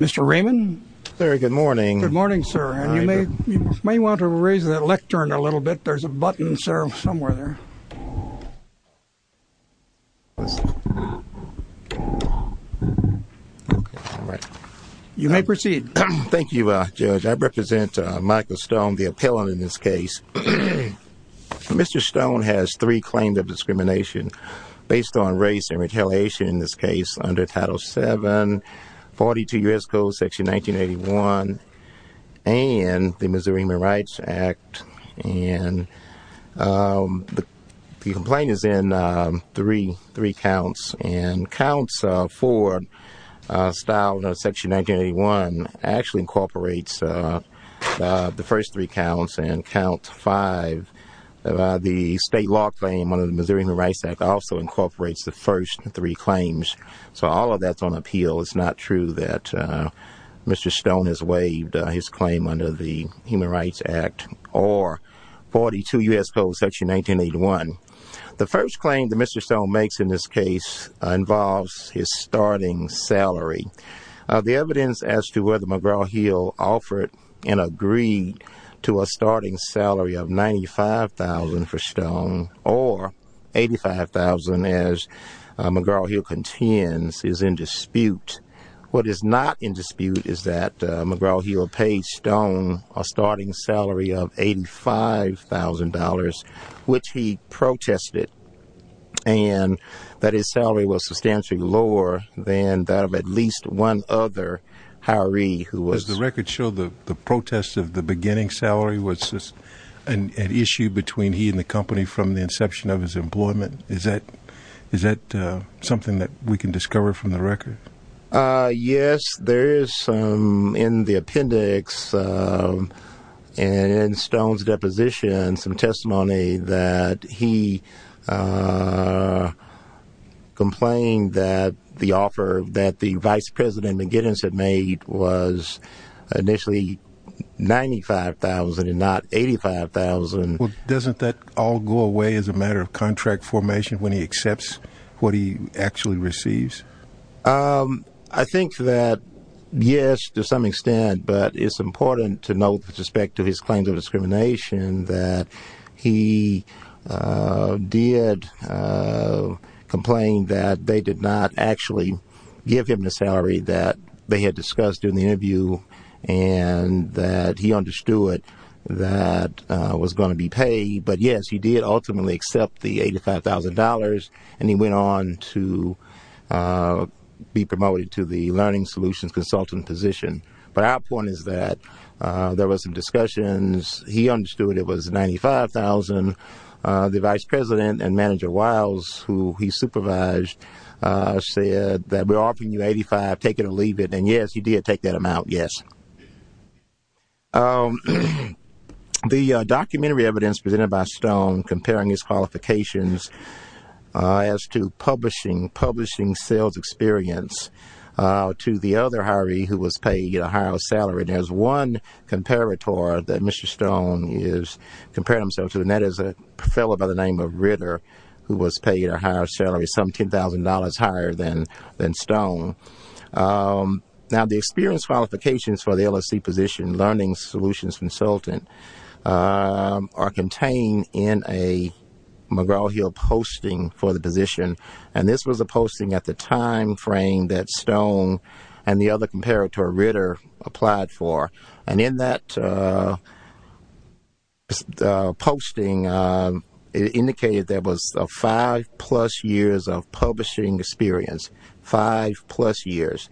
Mr. Raymond? Sir, good morning. Good morning, sir. And you may want to raise that lectern a little bit. There's a button, sir, somewhere there. You may proceed. Thank you, Judge. I represent Michael Stone, the appellant in this case. Mr. Stone has three claims of discrimination based on race and retaliation in this case under Title VII, 42 U.S. Code, Section 1981, and the Missouri Human Rights Act. And the complaint is in three counts. And counts four, styled Section 1981, actually incorporates the first three counts. And count five, the state law claim under the Missouri Human Rights Act also incorporates the first three claims. So all of that's on appeal. It's not true that Mr. Stone has waived his claim under the Human Rights Act or 42 U.S. Code, Section 1981. The first claim that Mr. Stone makes in this case involves his starting salary. The evidence as to whether McGraw-Hill offered and agreed to a starting salary of $95,000 for Stone or $85,000 as McGraw-Hill contends is in dispute. What is not in dispute is that McGraw-Hill paid Stone a starting salary of $85,000, which he protested, and that his salary was substantially lower than that of at least one other hiree who was Does the record show the protest of the beginning salary was an issue between he and the company from the inception of his employment? Is that something that we can discover from the record? Yes, there is some in the appendix in Stone's deposition some testimony that he complained that the offer that the Vice President McGinnis had made was initially $95,000 and not $85,000. Doesn't that all go away as a matter of contract formation when he accepts what he actually receives? I think that yes, to some extent, but it's important to note with respect to his claims of discrimination that he did complain that they did not actually give him the salary that they had discussed in the interview and that he understood that was going to be paid. But yes, he did ultimately accept the $85,000, and he went on to be promoted to the Learning Solutions consultant position. But our point is that there was some discussions. He understood it was $95,000. The Vice President and Manager Wiles, who he supervised, said that we're offering you $85,000. Take it or leave it. And yes, he did take that amount. Yes. The documentary evidence presented by Stone comparing his qualifications as to publishing sales experience to the other hiree who was paid a higher salary. There's one comparator that Mr. Stone is comparing himself to, and that is a fellow by the name of Ritter who was paid a higher salary, some $10,000 higher than Stone. Now, the experience qualifications for the LSE position, Learning Solutions consultant, are contained in a McGraw-Hill posting for the position. And this was a posting at the time frame that Stone and the other comparator, Ritter, applied for. And in that posting, it indicated there was five-plus years of publishing experience. Five-plus years.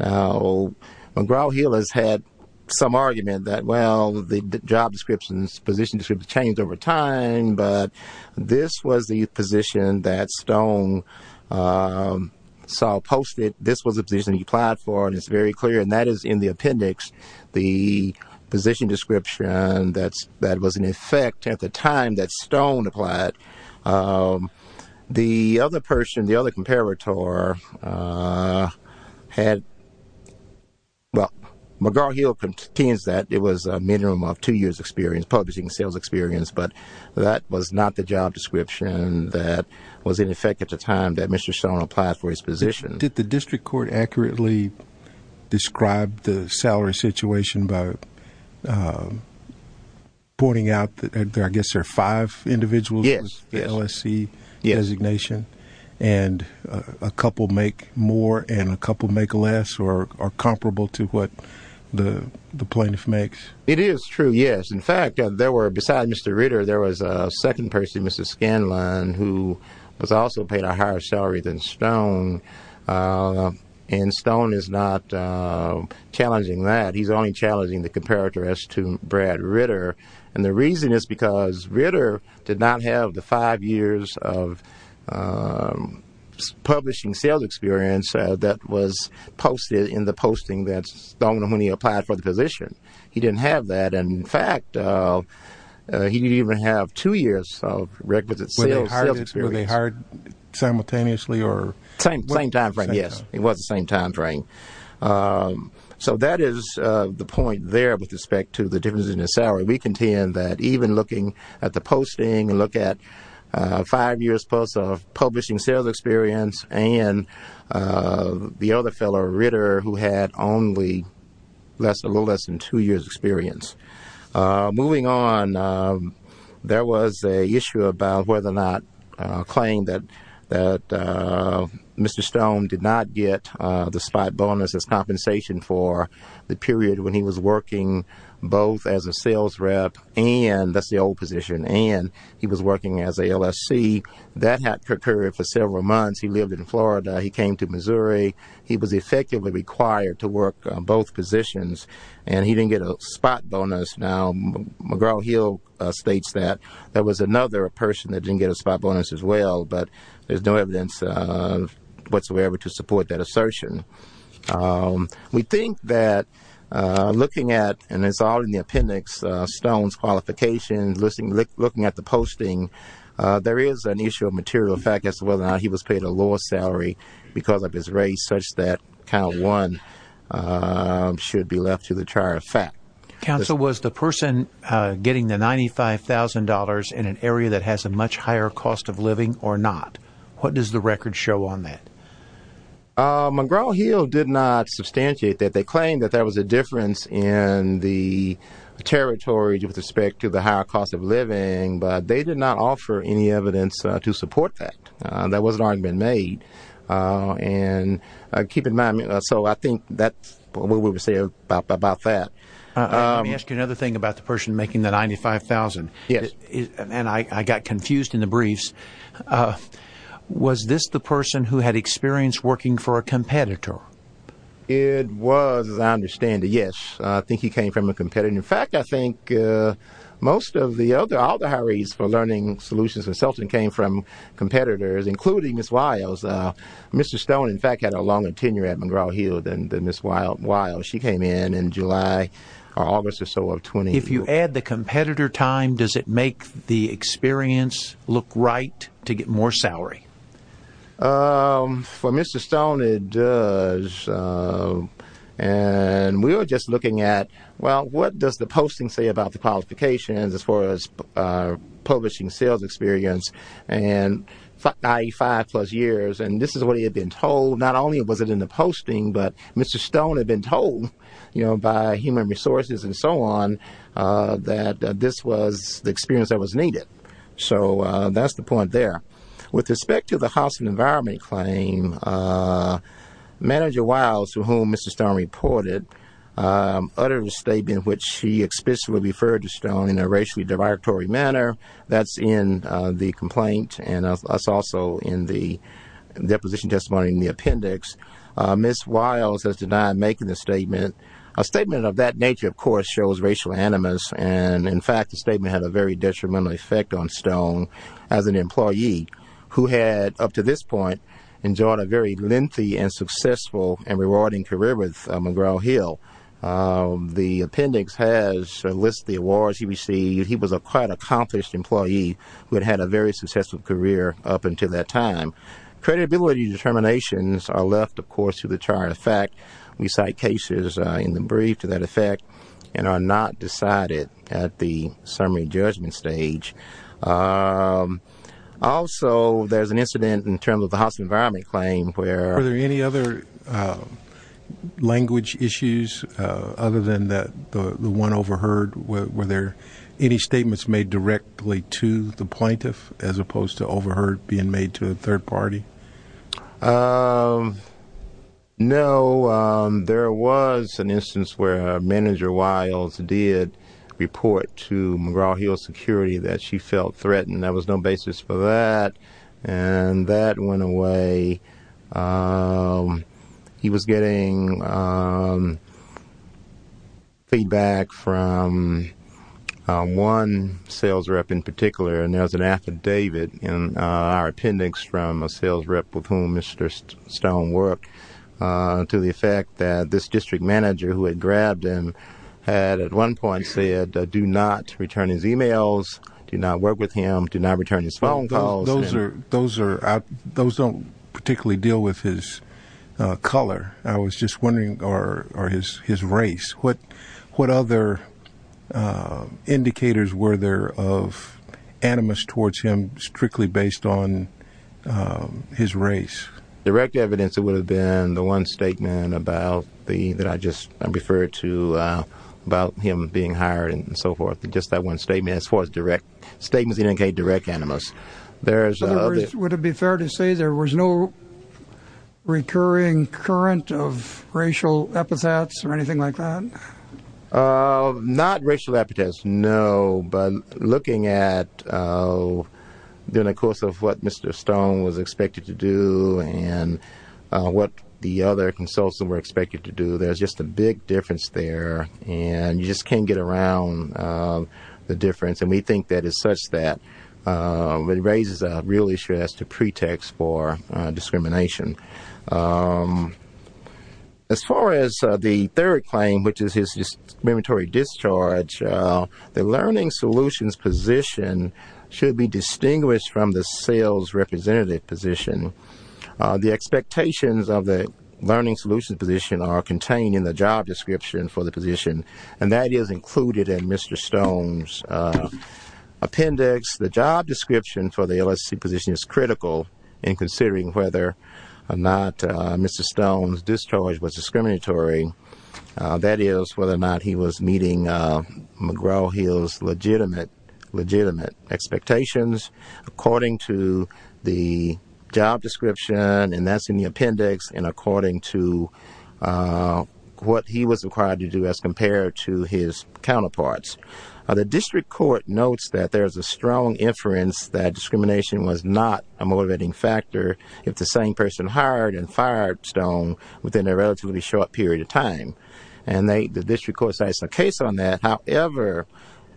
Now, McGraw-Hill has had some argument that, well, the job description, position description changed over time, but this was the position that Stone saw posted. This was the position he applied for, and it's very clear. And that is in the appendix, the position description that was in effect at the time that Stone applied. The other person, the other comparator, had – well, McGraw-Hill contains that. It was a minimum of two years experience, publishing sales experience, but that was not the job description that was in effect at the time that Mr. Stone applied for his position. Did the district court accurately describe the salary situation by pointing out that I guess there are five individuals with the LSE designation? Yes. And a couple make more and a couple make less or are comparable to what the plaintiff makes? It is true, yes. Besides Mr. Ritter, there was a second person, Mr. Scanlon, who was also paid a higher salary than Stone, and Stone is not challenging that. He's only challenging the comparator as to Brad Ritter, and the reason is because Ritter did not have the five years of publishing sales experience that was posted in the posting that Stone, when he applied for the position. He didn't have that. And, in fact, he didn't even have two years of requisite sales experience. Were they hired simultaneously or – Same timeframe, yes. It was the same timeframe. So that is the point there with respect to the differences in the salary. We contend that even looking at the posting and look at five years plus of publishing sales experience and the other fellow, Ritter, who had only a little less than two years' experience. Moving on, there was an issue about whether or not – a claim that Mr. Stone did not get the spot bonus as compensation for the period when he was working both as a sales rep and – that's the old position – and he was working as a LSC. That had occurred for several months. He lived in Florida. He came to Missouri. He was effectively required to work both positions, and he didn't get a spot bonus. Now, McGraw-Hill states that there was another person that didn't get a spot bonus as well, but there's no evidence whatsoever to support that assertion. We think that looking at – and it's all in the appendix – Stone's qualifications, looking at the posting, there is an issue of material fact as to whether or not he was paid a lower salary because of his race such that kind of one should be left to the trier of fact. Counsel, was the person getting the $95,000 in an area that has a much higher cost of living or not? What does the record show on that? McGraw-Hill did not substantiate that. They claimed that there was a difference in the territory with respect to the higher cost of living, but they did not offer any evidence to support that. That was an argument made, and keep in mind – so I think that's what we would say about that. Let me ask you another thing about the person making the $95,000. Yes. And I got confused in the briefs. Was this the person who had experience working for a competitor? It was, as I understand it, yes. I think he came from a competitor. In fact, I think most of the other – all the hirees for Learning Solutions Consulting came from competitors, including Ms. Wiles. Mr. Stone, in fact, had a longer tenure at McGraw-Hill than Ms. Wiles. She came in in July or August or so of 2012. If you add the competitor time, does it make the experience look right to get more salary? For Mr. Stone, it does. And we were just looking at, well, what does the posting say about the qualifications as far as publishing sales experience, i.e., five-plus years? And this is what he had been told. Not only was it in the posting, but Mr. Stone had been told by human resources and so on that this was the experience that was needed. So that's the point there. With respect to the housing environment claim, Manager Wiles, to whom Mr. Stone reported, uttered a statement in which she explicitly referred to Stone in a racially derogatory manner. That's in the complaint and that's also in the deposition testimony in the appendix. Ms. Wiles has denied making the statement. A statement of that nature, of course, shows racial animus. And, in fact, the statement had a very detrimental effect on Stone as an employee who had, up to this point, enjoyed a very lengthy and successful and rewarding career with McGraw-Hill. The appendix has listed the awards he received. He was a quite accomplished employee who had had a very successful career up until that time. Credibility determinations are left, of course, to the chart. In fact, we cite cases in the brief to that effect and are not decided at the summary judgment stage. Also, there's an incident in terms of the housing environment claim where- Were there any other language issues other than the one overheard? Were there any statements made directly to the plaintiff as opposed to overheard being made to a third party? No. There was an instance where Manager Wiles did report to McGraw-Hill Security that she felt threatened. There was no basis for that, and that went away. He was getting feedback from one sales rep in particular, and there was an affidavit in our appendix from a sales rep with whom Mr. Stone worked to the effect that this district manager who had grabbed him had at one point said, do not return his e-mails, do not work with him, do not return his phone calls. Those don't particularly deal with his color, I was just wondering, or his race. What other indicators were there of animus towards him strictly based on his race? Direct evidence would have been the one statement that I just referred to about him being hired and so forth. Just that one statement as far as direct statements indicate direct animus. Would it be fair to say there was no recurring current of racial epithets or anything like that? Not racial epithets, no. But looking at what Mr. Stone was expected to do and what the other consultants were expected to do, there's just a big difference there, and you just can't get around the difference. And we think that it's such that it raises a real issue as to pretext for discrimination. As far as the third claim, which is his discriminatory discharge, the learning solutions position should be distinguished from the sales representative position. The expectations of the learning solutions position are contained in the job description for the position, and that is included in Mr. Stone's appendix. The job description for the LSC position is critical in considering whether or not Mr. Stone's discharge was discriminatory. That is whether or not he was meeting McGraw-Hill's legitimate expectations. According to the job description, and that's in the appendix, and according to what he was required to do as compared to his counterparts, the district court notes that there is a strong inference that discrimination was not a motivating factor if the same person hired and fired Stone within a relatively short period of time. And the district court says there's a case on that. However,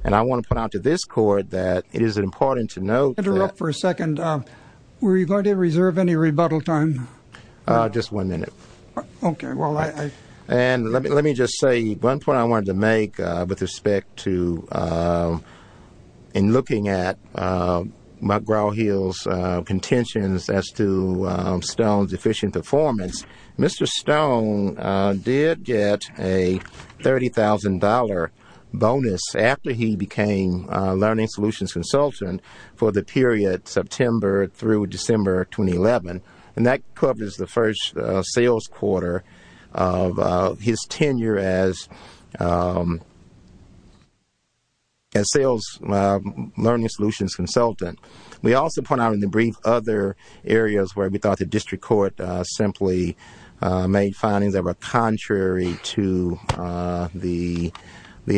and I want to point out to this court that it is important to note that- Interrupt for a second. And were you going to reserve any rebuttal time? Just one minute. Okay. Well, I- And let me just say one point I wanted to make with respect to in looking at McGraw-Hill's contentions as to Stone's efficient performance. Mr. Stone did get a $30,000 bonus after he became learning solutions consultant for the period September through December 2011. And that covers the first sales quarter of his tenure as sales learning solutions consultant. We also point out in the brief other areas where we thought the district court simply made findings that were contrary to the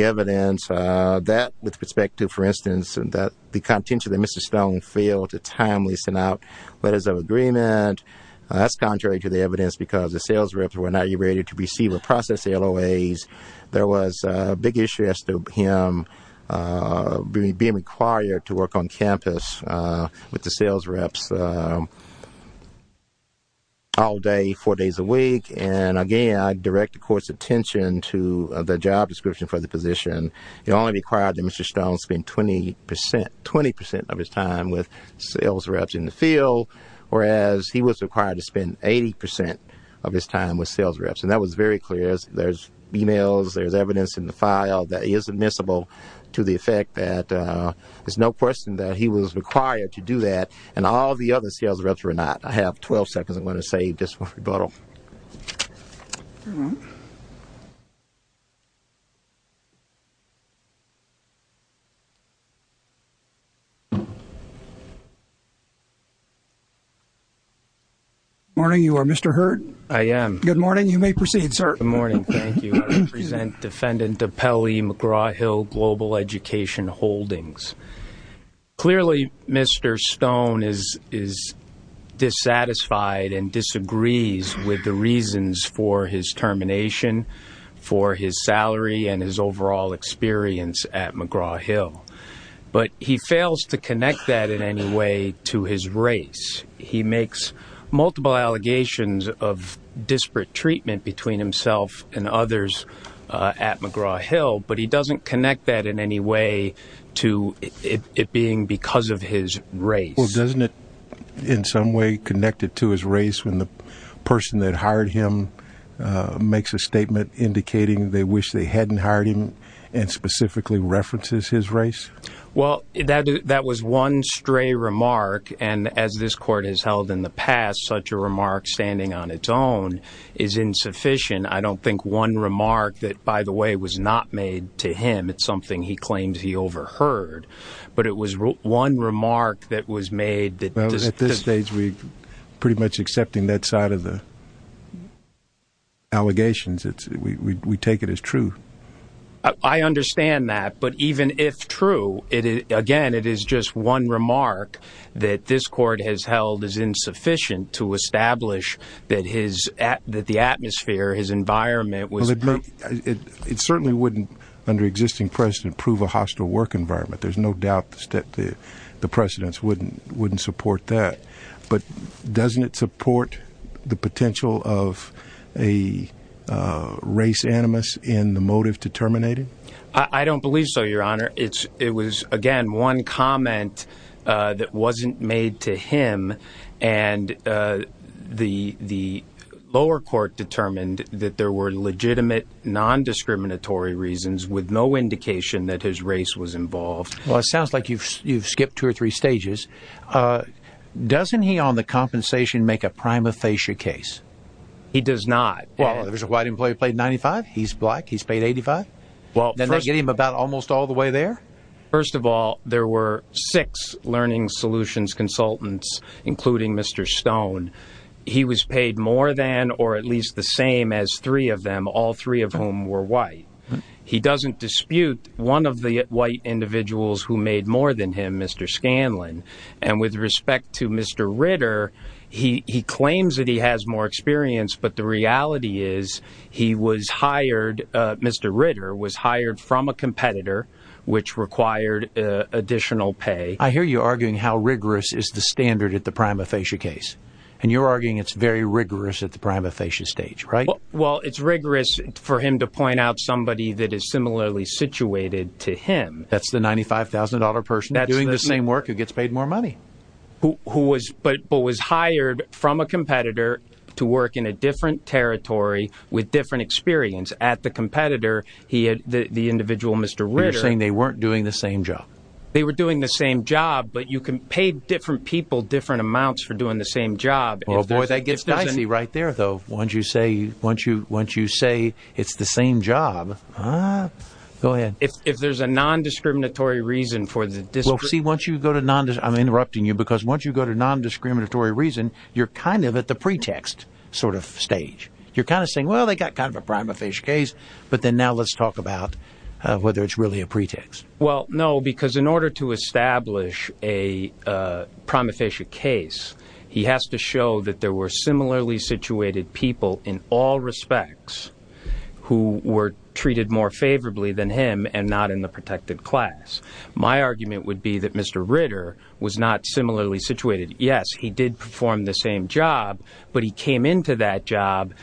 evidence, that with respect to, for instance, the contention that Mr. Stone failed to timely send out letters of agreement, that's contrary to the evidence because the sales reps were not ready to receive or process the LOAs. There was a big issue as to him being required to work on campus with the sales reps all day, four days a week. And, again, I direct the court's attention to the job description for the position. It only required that Mr. Stone spend 20 percent of his time with sales reps in the field, whereas he was required to spend 80 percent of his time with sales reps. And that was very clear. There's e-mails, there's evidence in the file that is admissible to the effect that there's no question that he was required to do that, and all the other sales reps were not. I have 12 seconds. I'm going to save just for rebuttal. Good morning. You are Mr. Hurd? I am. Good morning. You may proceed, sir. Good morning. Thank you. I represent Defendant Apelli McGraw-Hill Global Education Holdings. Clearly, Mr. Stone is dissatisfied and disagrees with the reasons for his termination, for his salary, and his overall experience at McGraw-Hill. But he fails to connect that in any way to his race. He makes multiple allegations of disparate treatment between himself and others at McGraw-Hill, but he doesn't connect that in any way to it being because of his race. Well, doesn't it in some way connect it to his race when the person that hired him makes a statement indicating they wish they hadn't hired him and specifically references his race? Well, that was one stray remark, and as this court has held in the past, such a remark standing on its own is insufficient. I don't think one remark that, by the way, was not made to him. It's something he claims he overheard. But it was one remark that was made. Well, at this stage, we're pretty much accepting that side of the allegations. We take it as true. I understand that. But even if true, again, it is just one remark that this court has held is insufficient to establish that the atmosphere, his environment was— It certainly wouldn't, under existing precedent, prove a hostile work environment. There's no doubt the precedents wouldn't support that. But doesn't it support the potential of a race animus in the motive to terminate him? I don't believe so, Your Honor. It was, again, one comment that wasn't made to him. And the lower court determined that there were legitimate non-discriminatory reasons with no indication that his race was involved. Well, it sounds like you've skipped two or three stages. Doesn't he, on the compensation, make a prima facie case? He does not. Well, there's a white employee who paid $95. He's black. He's paid $85. Doesn't that get him about almost all the way there? First of all, there were six Learning Solutions consultants, including Mr. Stone. He was paid more than or at least the same as three of them, all three of whom were white. He doesn't dispute one of the white individuals who made more than him, Mr. Scanlon. And with respect to Mr. Ritter, he claims that he has more experience, but the reality is he was hired, Mr. Ritter was hired from a competitor, which required additional pay. I hear you arguing how rigorous is the standard at the prima facie case. And you're arguing it's very rigorous at the prima facie stage, right? Well, it's rigorous for him to point out somebody that is similarly situated to him. That's the $95,000 person doing the same work who gets paid more money. But was hired from a competitor to work in a different territory with different experience. At the competitor, the individual, Mr. Ritter— You're saying they weren't doing the same job. They were doing the same job, but you can pay different people different amounts for doing the same job. Boy, that gets dicey right there, though, once you say it's the same job. Go ahead. If there's a nondiscriminatory reason for the— See, once you go to—I'm interrupting you because once you go to nondiscriminatory reason, you're kind of at the pretext sort of stage. You're kind of saying, well, they got kind of a prima facie case, but then now let's talk about whether it's really a pretext. Well, no, because in order to establish a prima facie case, he has to show that there were similarly situated people in all respects who were treated more favorably than him and not in the protected class. My argument would be that Mr. Ritter was not similarly situated. Yes, he did perform the same job, but he came into that job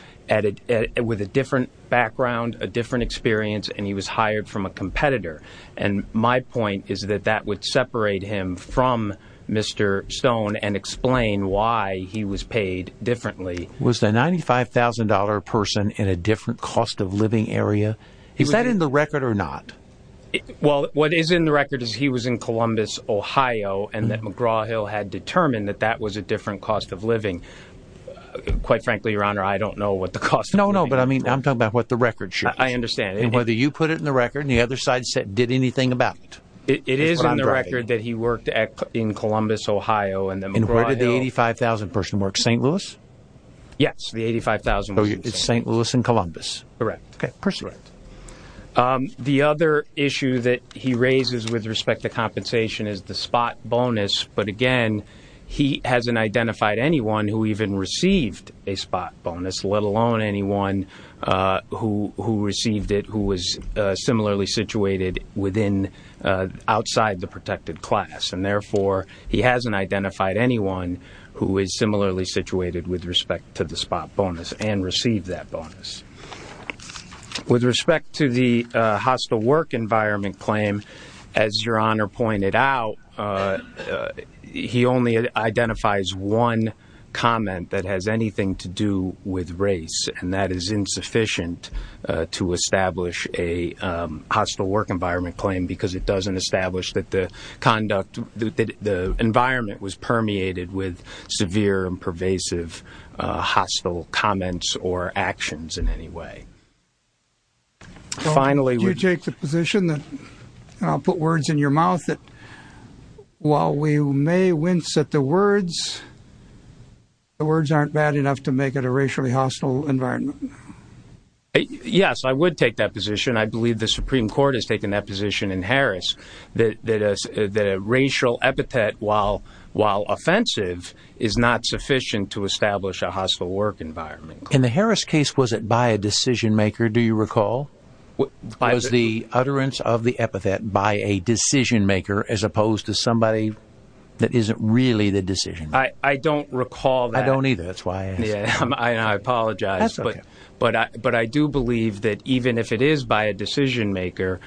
with a different background, a different experience, and he was hired from a competitor. And my point is that that would separate him from Mr. Stone and explain why he was paid differently. Was the $95,000 person in a different cost-of-living area? Is that in the record or not? Well, what is in the record is he was in Columbus, Ohio, and that McGraw-Hill had determined that that was a different cost of living. Quite frankly, Your Honor, I don't know what the cost— No, no, but I mean, I'm talking about what the record shows. I understand. And whether you put it in the record and the other side did anything about it. It is in the record that he worked in Columbus, Ohio, and the McGraw-Hill— And where did the $85,000 person work, St. Louis? Yes, the $85,000 person. So it's St. Louis and Columbus. Correct. Okay, personally. Correct. The other issue that he raises with respect to compensation is the spot bonus. But, again, he hasn't identified anyone who even received a spot bonus, let alone anyone who received it who was similarly situated outside the protected class. And, therefore, he hasn't identified anyone who is similarly situated with respect to the spot bonus and received that bonus. With respect to the hostile work environment claim, as Your Honor pointed out, he only identifies one comment that has anything to do with race. And that is insufficient to establish a hostile work environment claim because it doesn't establish that the environment was permeated with severe and pervasive hostile comments or actions in any way. Would you take the position—and I'll put words in your mouth—that while we may wince at the words, the words aren't bad enough to make it a racially hostile environment? Yes, I would take that position. I believe the Supreme Court has taken that position in Harris, that a racial epithet, while offensive, is not sufficient to establish a hostile work environment claim. In the Harris case, was it by a decision-maker, do you recall? Was the utterance of the epithet by a decision-maker as opposed to somebody that isn't really the decision-maker? I don't recall that. I don't either. That's why I asked. I apologize. That's okay. But I do believe that even if it is by a decision-maker,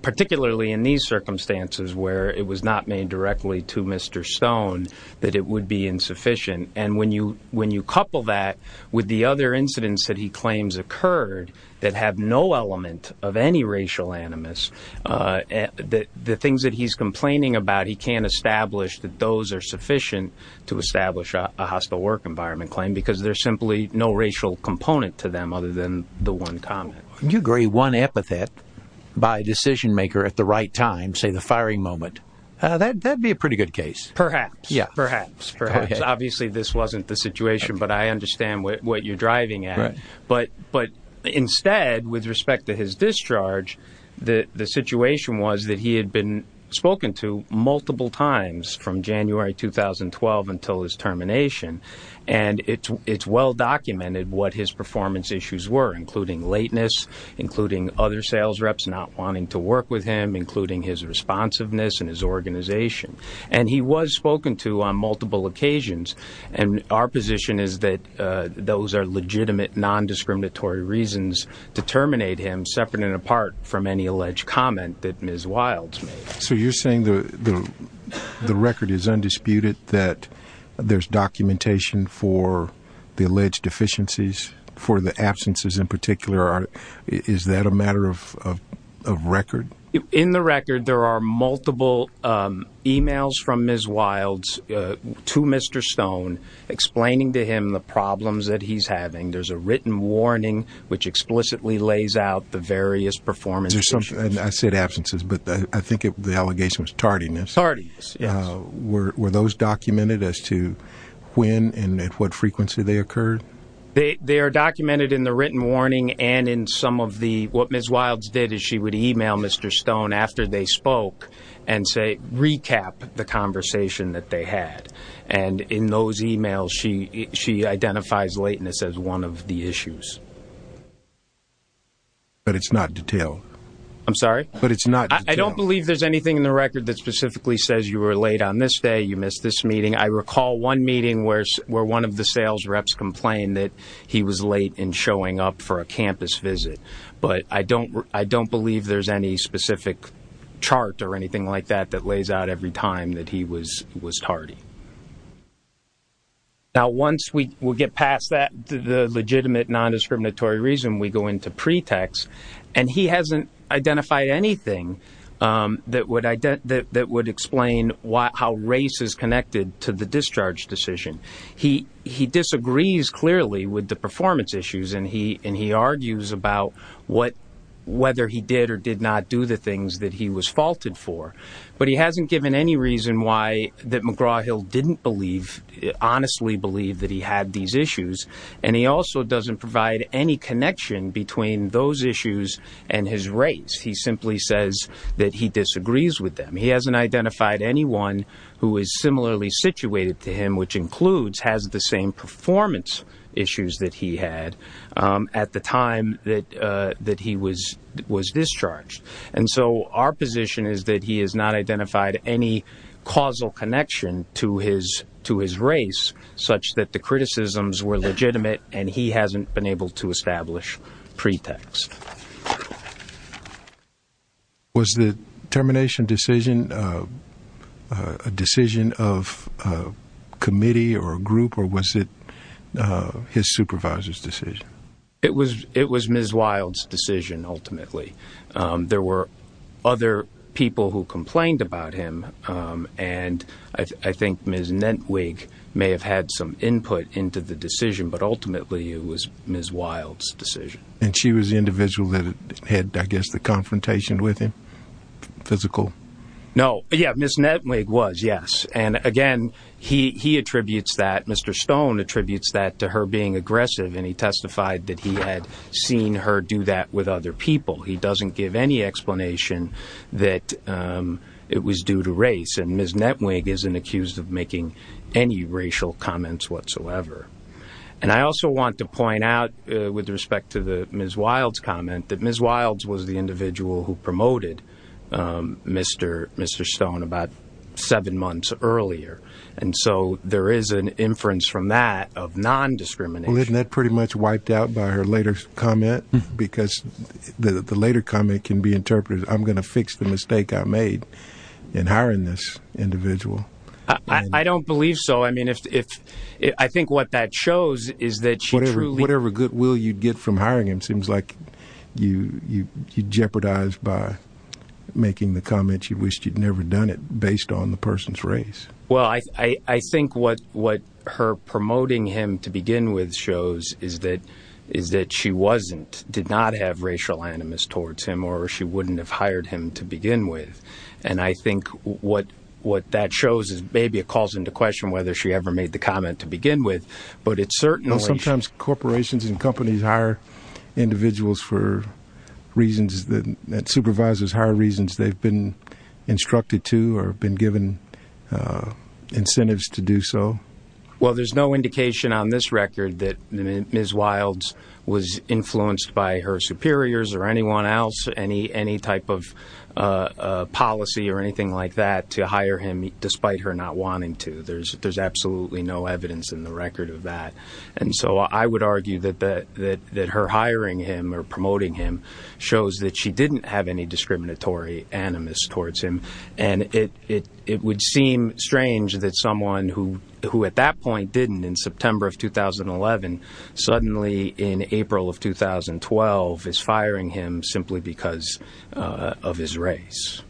particularly in these circumstances where it was not made directly to Mr. Stone, that it would be insufficient. And when you couple that with the other incidents that he claims occurred that have no element of any racial animus, the things that he's complaining about, he can't establish that those are sufficient to establish a hostile work environment claim because there's simply no racial component to them other than the one comment. Would you agree one epithet by a decision-maker at the right time, say the firing moment, that would be a pretty good case? Perhaps. Perhaps. Obviously, this wasn't the situation, but I understand what you're driving at. But instead, with respect to his discharge, the situation was that he had been spoken to multiple times from January 2012 until his termination, and it's well documented what his performance issues were, including lateness, including other sales reps not wanting to work with him, including his responsiveness and his organization. And he was spoken to on multiple occasions. And our position is that those are legitimate, nondiscriminatory reasons to terminate him, separate and apart from any alleged comment that Ms. Wilds made. So you're saying the record is undisputed, that there's documentation for the alleged deficiencies, for the absences in particular? Is that a matter of record? In the record, there are multiple emails from Ms. Wilds to Mr. Stone explaining to him the problems that he's having. There's a written warning which explicitly lays out the various performance issues. I said absences, but I think the allegation was tardiness. Tardiness, yes. Were those documented as to when and at what frequency they occurred? They are documented in the written warning and in some of the, what Ms. Wilds did is she would email Mr. Stone after they spoke and say, recap the conversation that they had. And in those emails, she identifies lateness as one of the issues. But it's not detailed. I'm sorry? But it's not detailed. I don't believe there's anything in the record that specifically says you were late on this day, you missed this meeting. I recall one meeting where one of the sales reps complained that he was late in showing up for a campus visit. But I don't believe there's any specific chart or anything like that that lays out every time that he was tardy. Now, once we get past that, the legitimate nondiscriminatory reason, we go into pretext. And he hasn't identified anything that would explain how race is connected to the discharge decision. He disagrees clearly with the performance issues, and he argues about whether he did or did not do the things that he was faulted for. But he hasn't given any reason why that McGraw-Hill didn't believe, honestly believe that he had these issues. And he also doesn't provide any connection between those issues and his race. He simply says that he disagrees with them. He hasn't identified anyone who is similarly situated to him, which includes has the same performance issues that he had at the time that he was discharged. And so our position is that he has not identified any causal connection to his race, such that the criticisms were legitimate and he hasn't been able to establish pretext. Was the termination decision a decision of a committee or a group, or was it his supervisor's decision? It was Ms. Wild's decision, ultimately. There were other people who complained about him, and I think Ms. Nentwig may have had some input into the decision, but ultimately it was Ms. Wild's decision. And she was the individual that had, I guess, the confrontation with him, physical? No. Yeah, Ms. Nentwig was, yes. And, again, he attributes that, Mr. Stone attributes that to her being aggressive, and he testified that he had seen her do that with other people. He doesn't give any explanation that it was due to race, and Ms. Nentwig isn't accused of making any racial comments whatsoever. And I also want to point out, with respect to Ms. Wild's comment, that Ms. Wild was the individual who promoted Mr. Stone about seven months earlier. And so there is an inference from that of non-discrimination. Well, isn't that pretty much wiped out by her later comment? Because the later comment can be interpreted, I'm going to fix the mistake I made in hiring this individual. I don't believe so. I mean, I think what that shows is that she truly… Whatever goodwill you'd get from hiring him seems like you jeopardized by making the comment you wished you'd never done it based on the person's race. Well, I think what her promoting him to begin with shows is that she wasn't, did not have racial animus towards him, or she wouldn't have hired him to begin with. And I think what that shows is maybe it calls into question whether she ever made the comment to begin with, but it's certainly… Sometimes corporations and companies hire individuals for reasons that supervisors hire reasons they've been instructed to or been given incentives to do so. Well, there's no indication on this record that Ms. Wilds was influenced by her superiors or anyone else, any type of policy or anything like that to hire him despite her not wanting to. There's absolutely no evidence in the record of that. And so I would argue that her hiring him or promoting him shows that she didn't have any discriminatory animus towards him. And it would seem strange that someone who at that point didn't in September of 2011 suddenly in April of 2012 is firing him simply because of his race.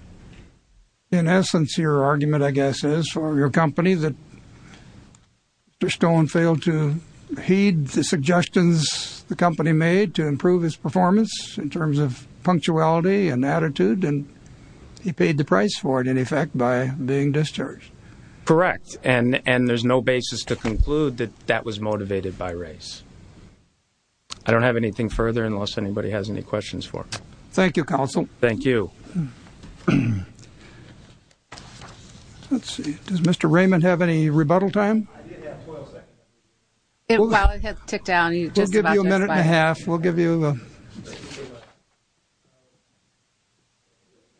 In essence, your argument, I guess, is for your company that Mr. Stone failed to heed the suggestions the company made to improve his performance in terms of punctuality and attitude, and he paid the price for it, in effect, by being discharged. Correct. And there's no basis to conclude that that was motivated by race. I don't have anything further unless anybody has any questions for me. Thank you, Counsel. Thank you. Let's see. Does Mr. Raymond have any rebuttal time? I did have 12 seconds. Well, it has ticked down. We'll give you a minute and a half. We'll give you a...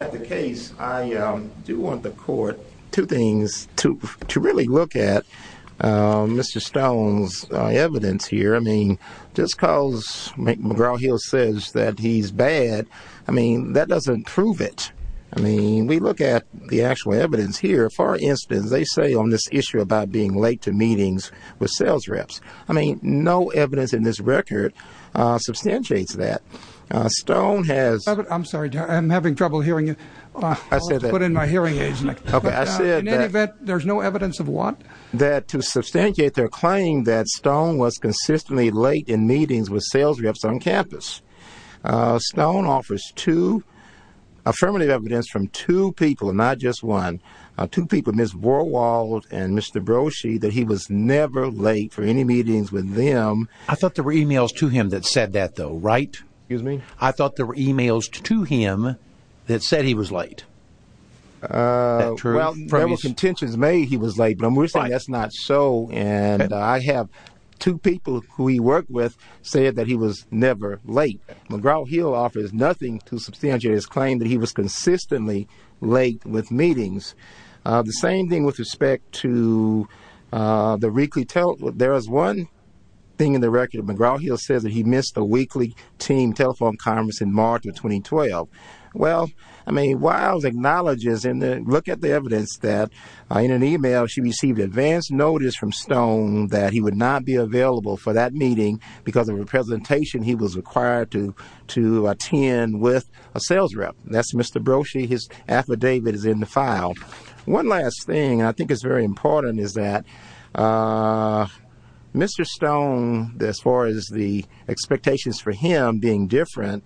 At the case, I do want the court two things, to really look at Mr. Stone's evidence here. I mean, just because McGraw-Hill says that he's bad, I mean, that doesn't prove it. I mean, we look at the actual evidence here. For instance, they say on this issue about being late to meetings with sales reps. I mean, no evidence in this record substantiates that. Stone has... I'm sorry, I'm having trouble hearing you. I said that. I'll have to put in my hearing aids next time. Okay, I said that. In any event, there's no evidence of what? That to substantiate their claim that Stone was consistently late in meetings with sales reps on campus, Stone offers two affirmative evidence from two people, and not just one, two people, Ms. Borwald and Mr. Broshy, that he was never late for any meetings with them. I thought there were e-mails to him that said that, though, right? Excuse me? I thought there were e-mails to him that said he was late. Well, there were contentions made he was late, but I'm only saying that's not so, and I have two people who he worked with say that he was never late. McGraw-Hill offers nothing to substantiate his claim that he was consistently late with meetings. The same thing with respect to the weekly telephone. There is one thing in the record. McGraw-Hill says that he missed a weekly team telephone conference in March of 2012. Well, I mean, Wiles acknowledges, and look at the evidence, that in an e-mail, she received advance notice from Stone that he would not be available for that meeting because of the presentation he was required to attend with a sales rep. That's Mr. Broshy. His affidavit is in the file. One last thing I think is very important is that Mr. Stone, as far as the expectations for him being different,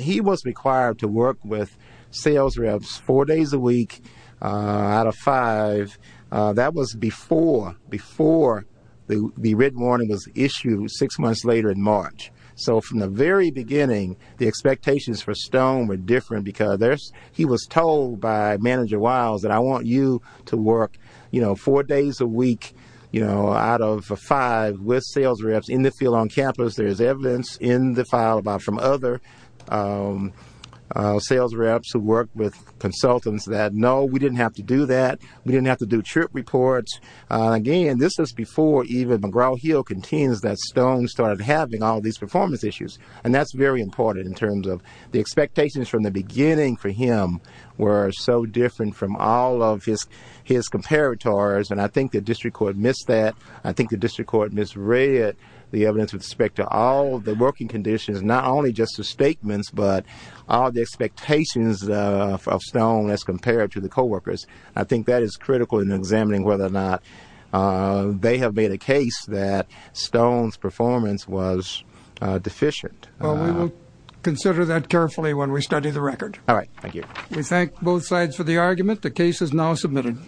he was required to work with sales reps four days a week out of five. That was before the written warning was issued six months later in March. So from the very beginning, the expectations for Stone were different because he was told by Manager Wiles that, I want you to work four days a week out of five with sales reps in the field on campus. There is evidence in the file from other sales reps who worked with consultants that, no, we didn't have to do that. We didn't have to do trip reports. Again, this was before even McGraw-Hill contains that Stone started having all these performance issues, and that's very important in terms of the expectations from the beginning for him were so different from all of his comparators, and I think the district court missed that. I think the district court misread the evidence with respect to all the working conditions, not only just the statements but all the expectations of Stone as compared to the coworkers. I think that is critical in examining whether or not they have made a case that Stone's performance was deficient. Well, we will consider that carefully when we study the record. All right. Thank you. We thank both sides for the argument. The case is now submitted.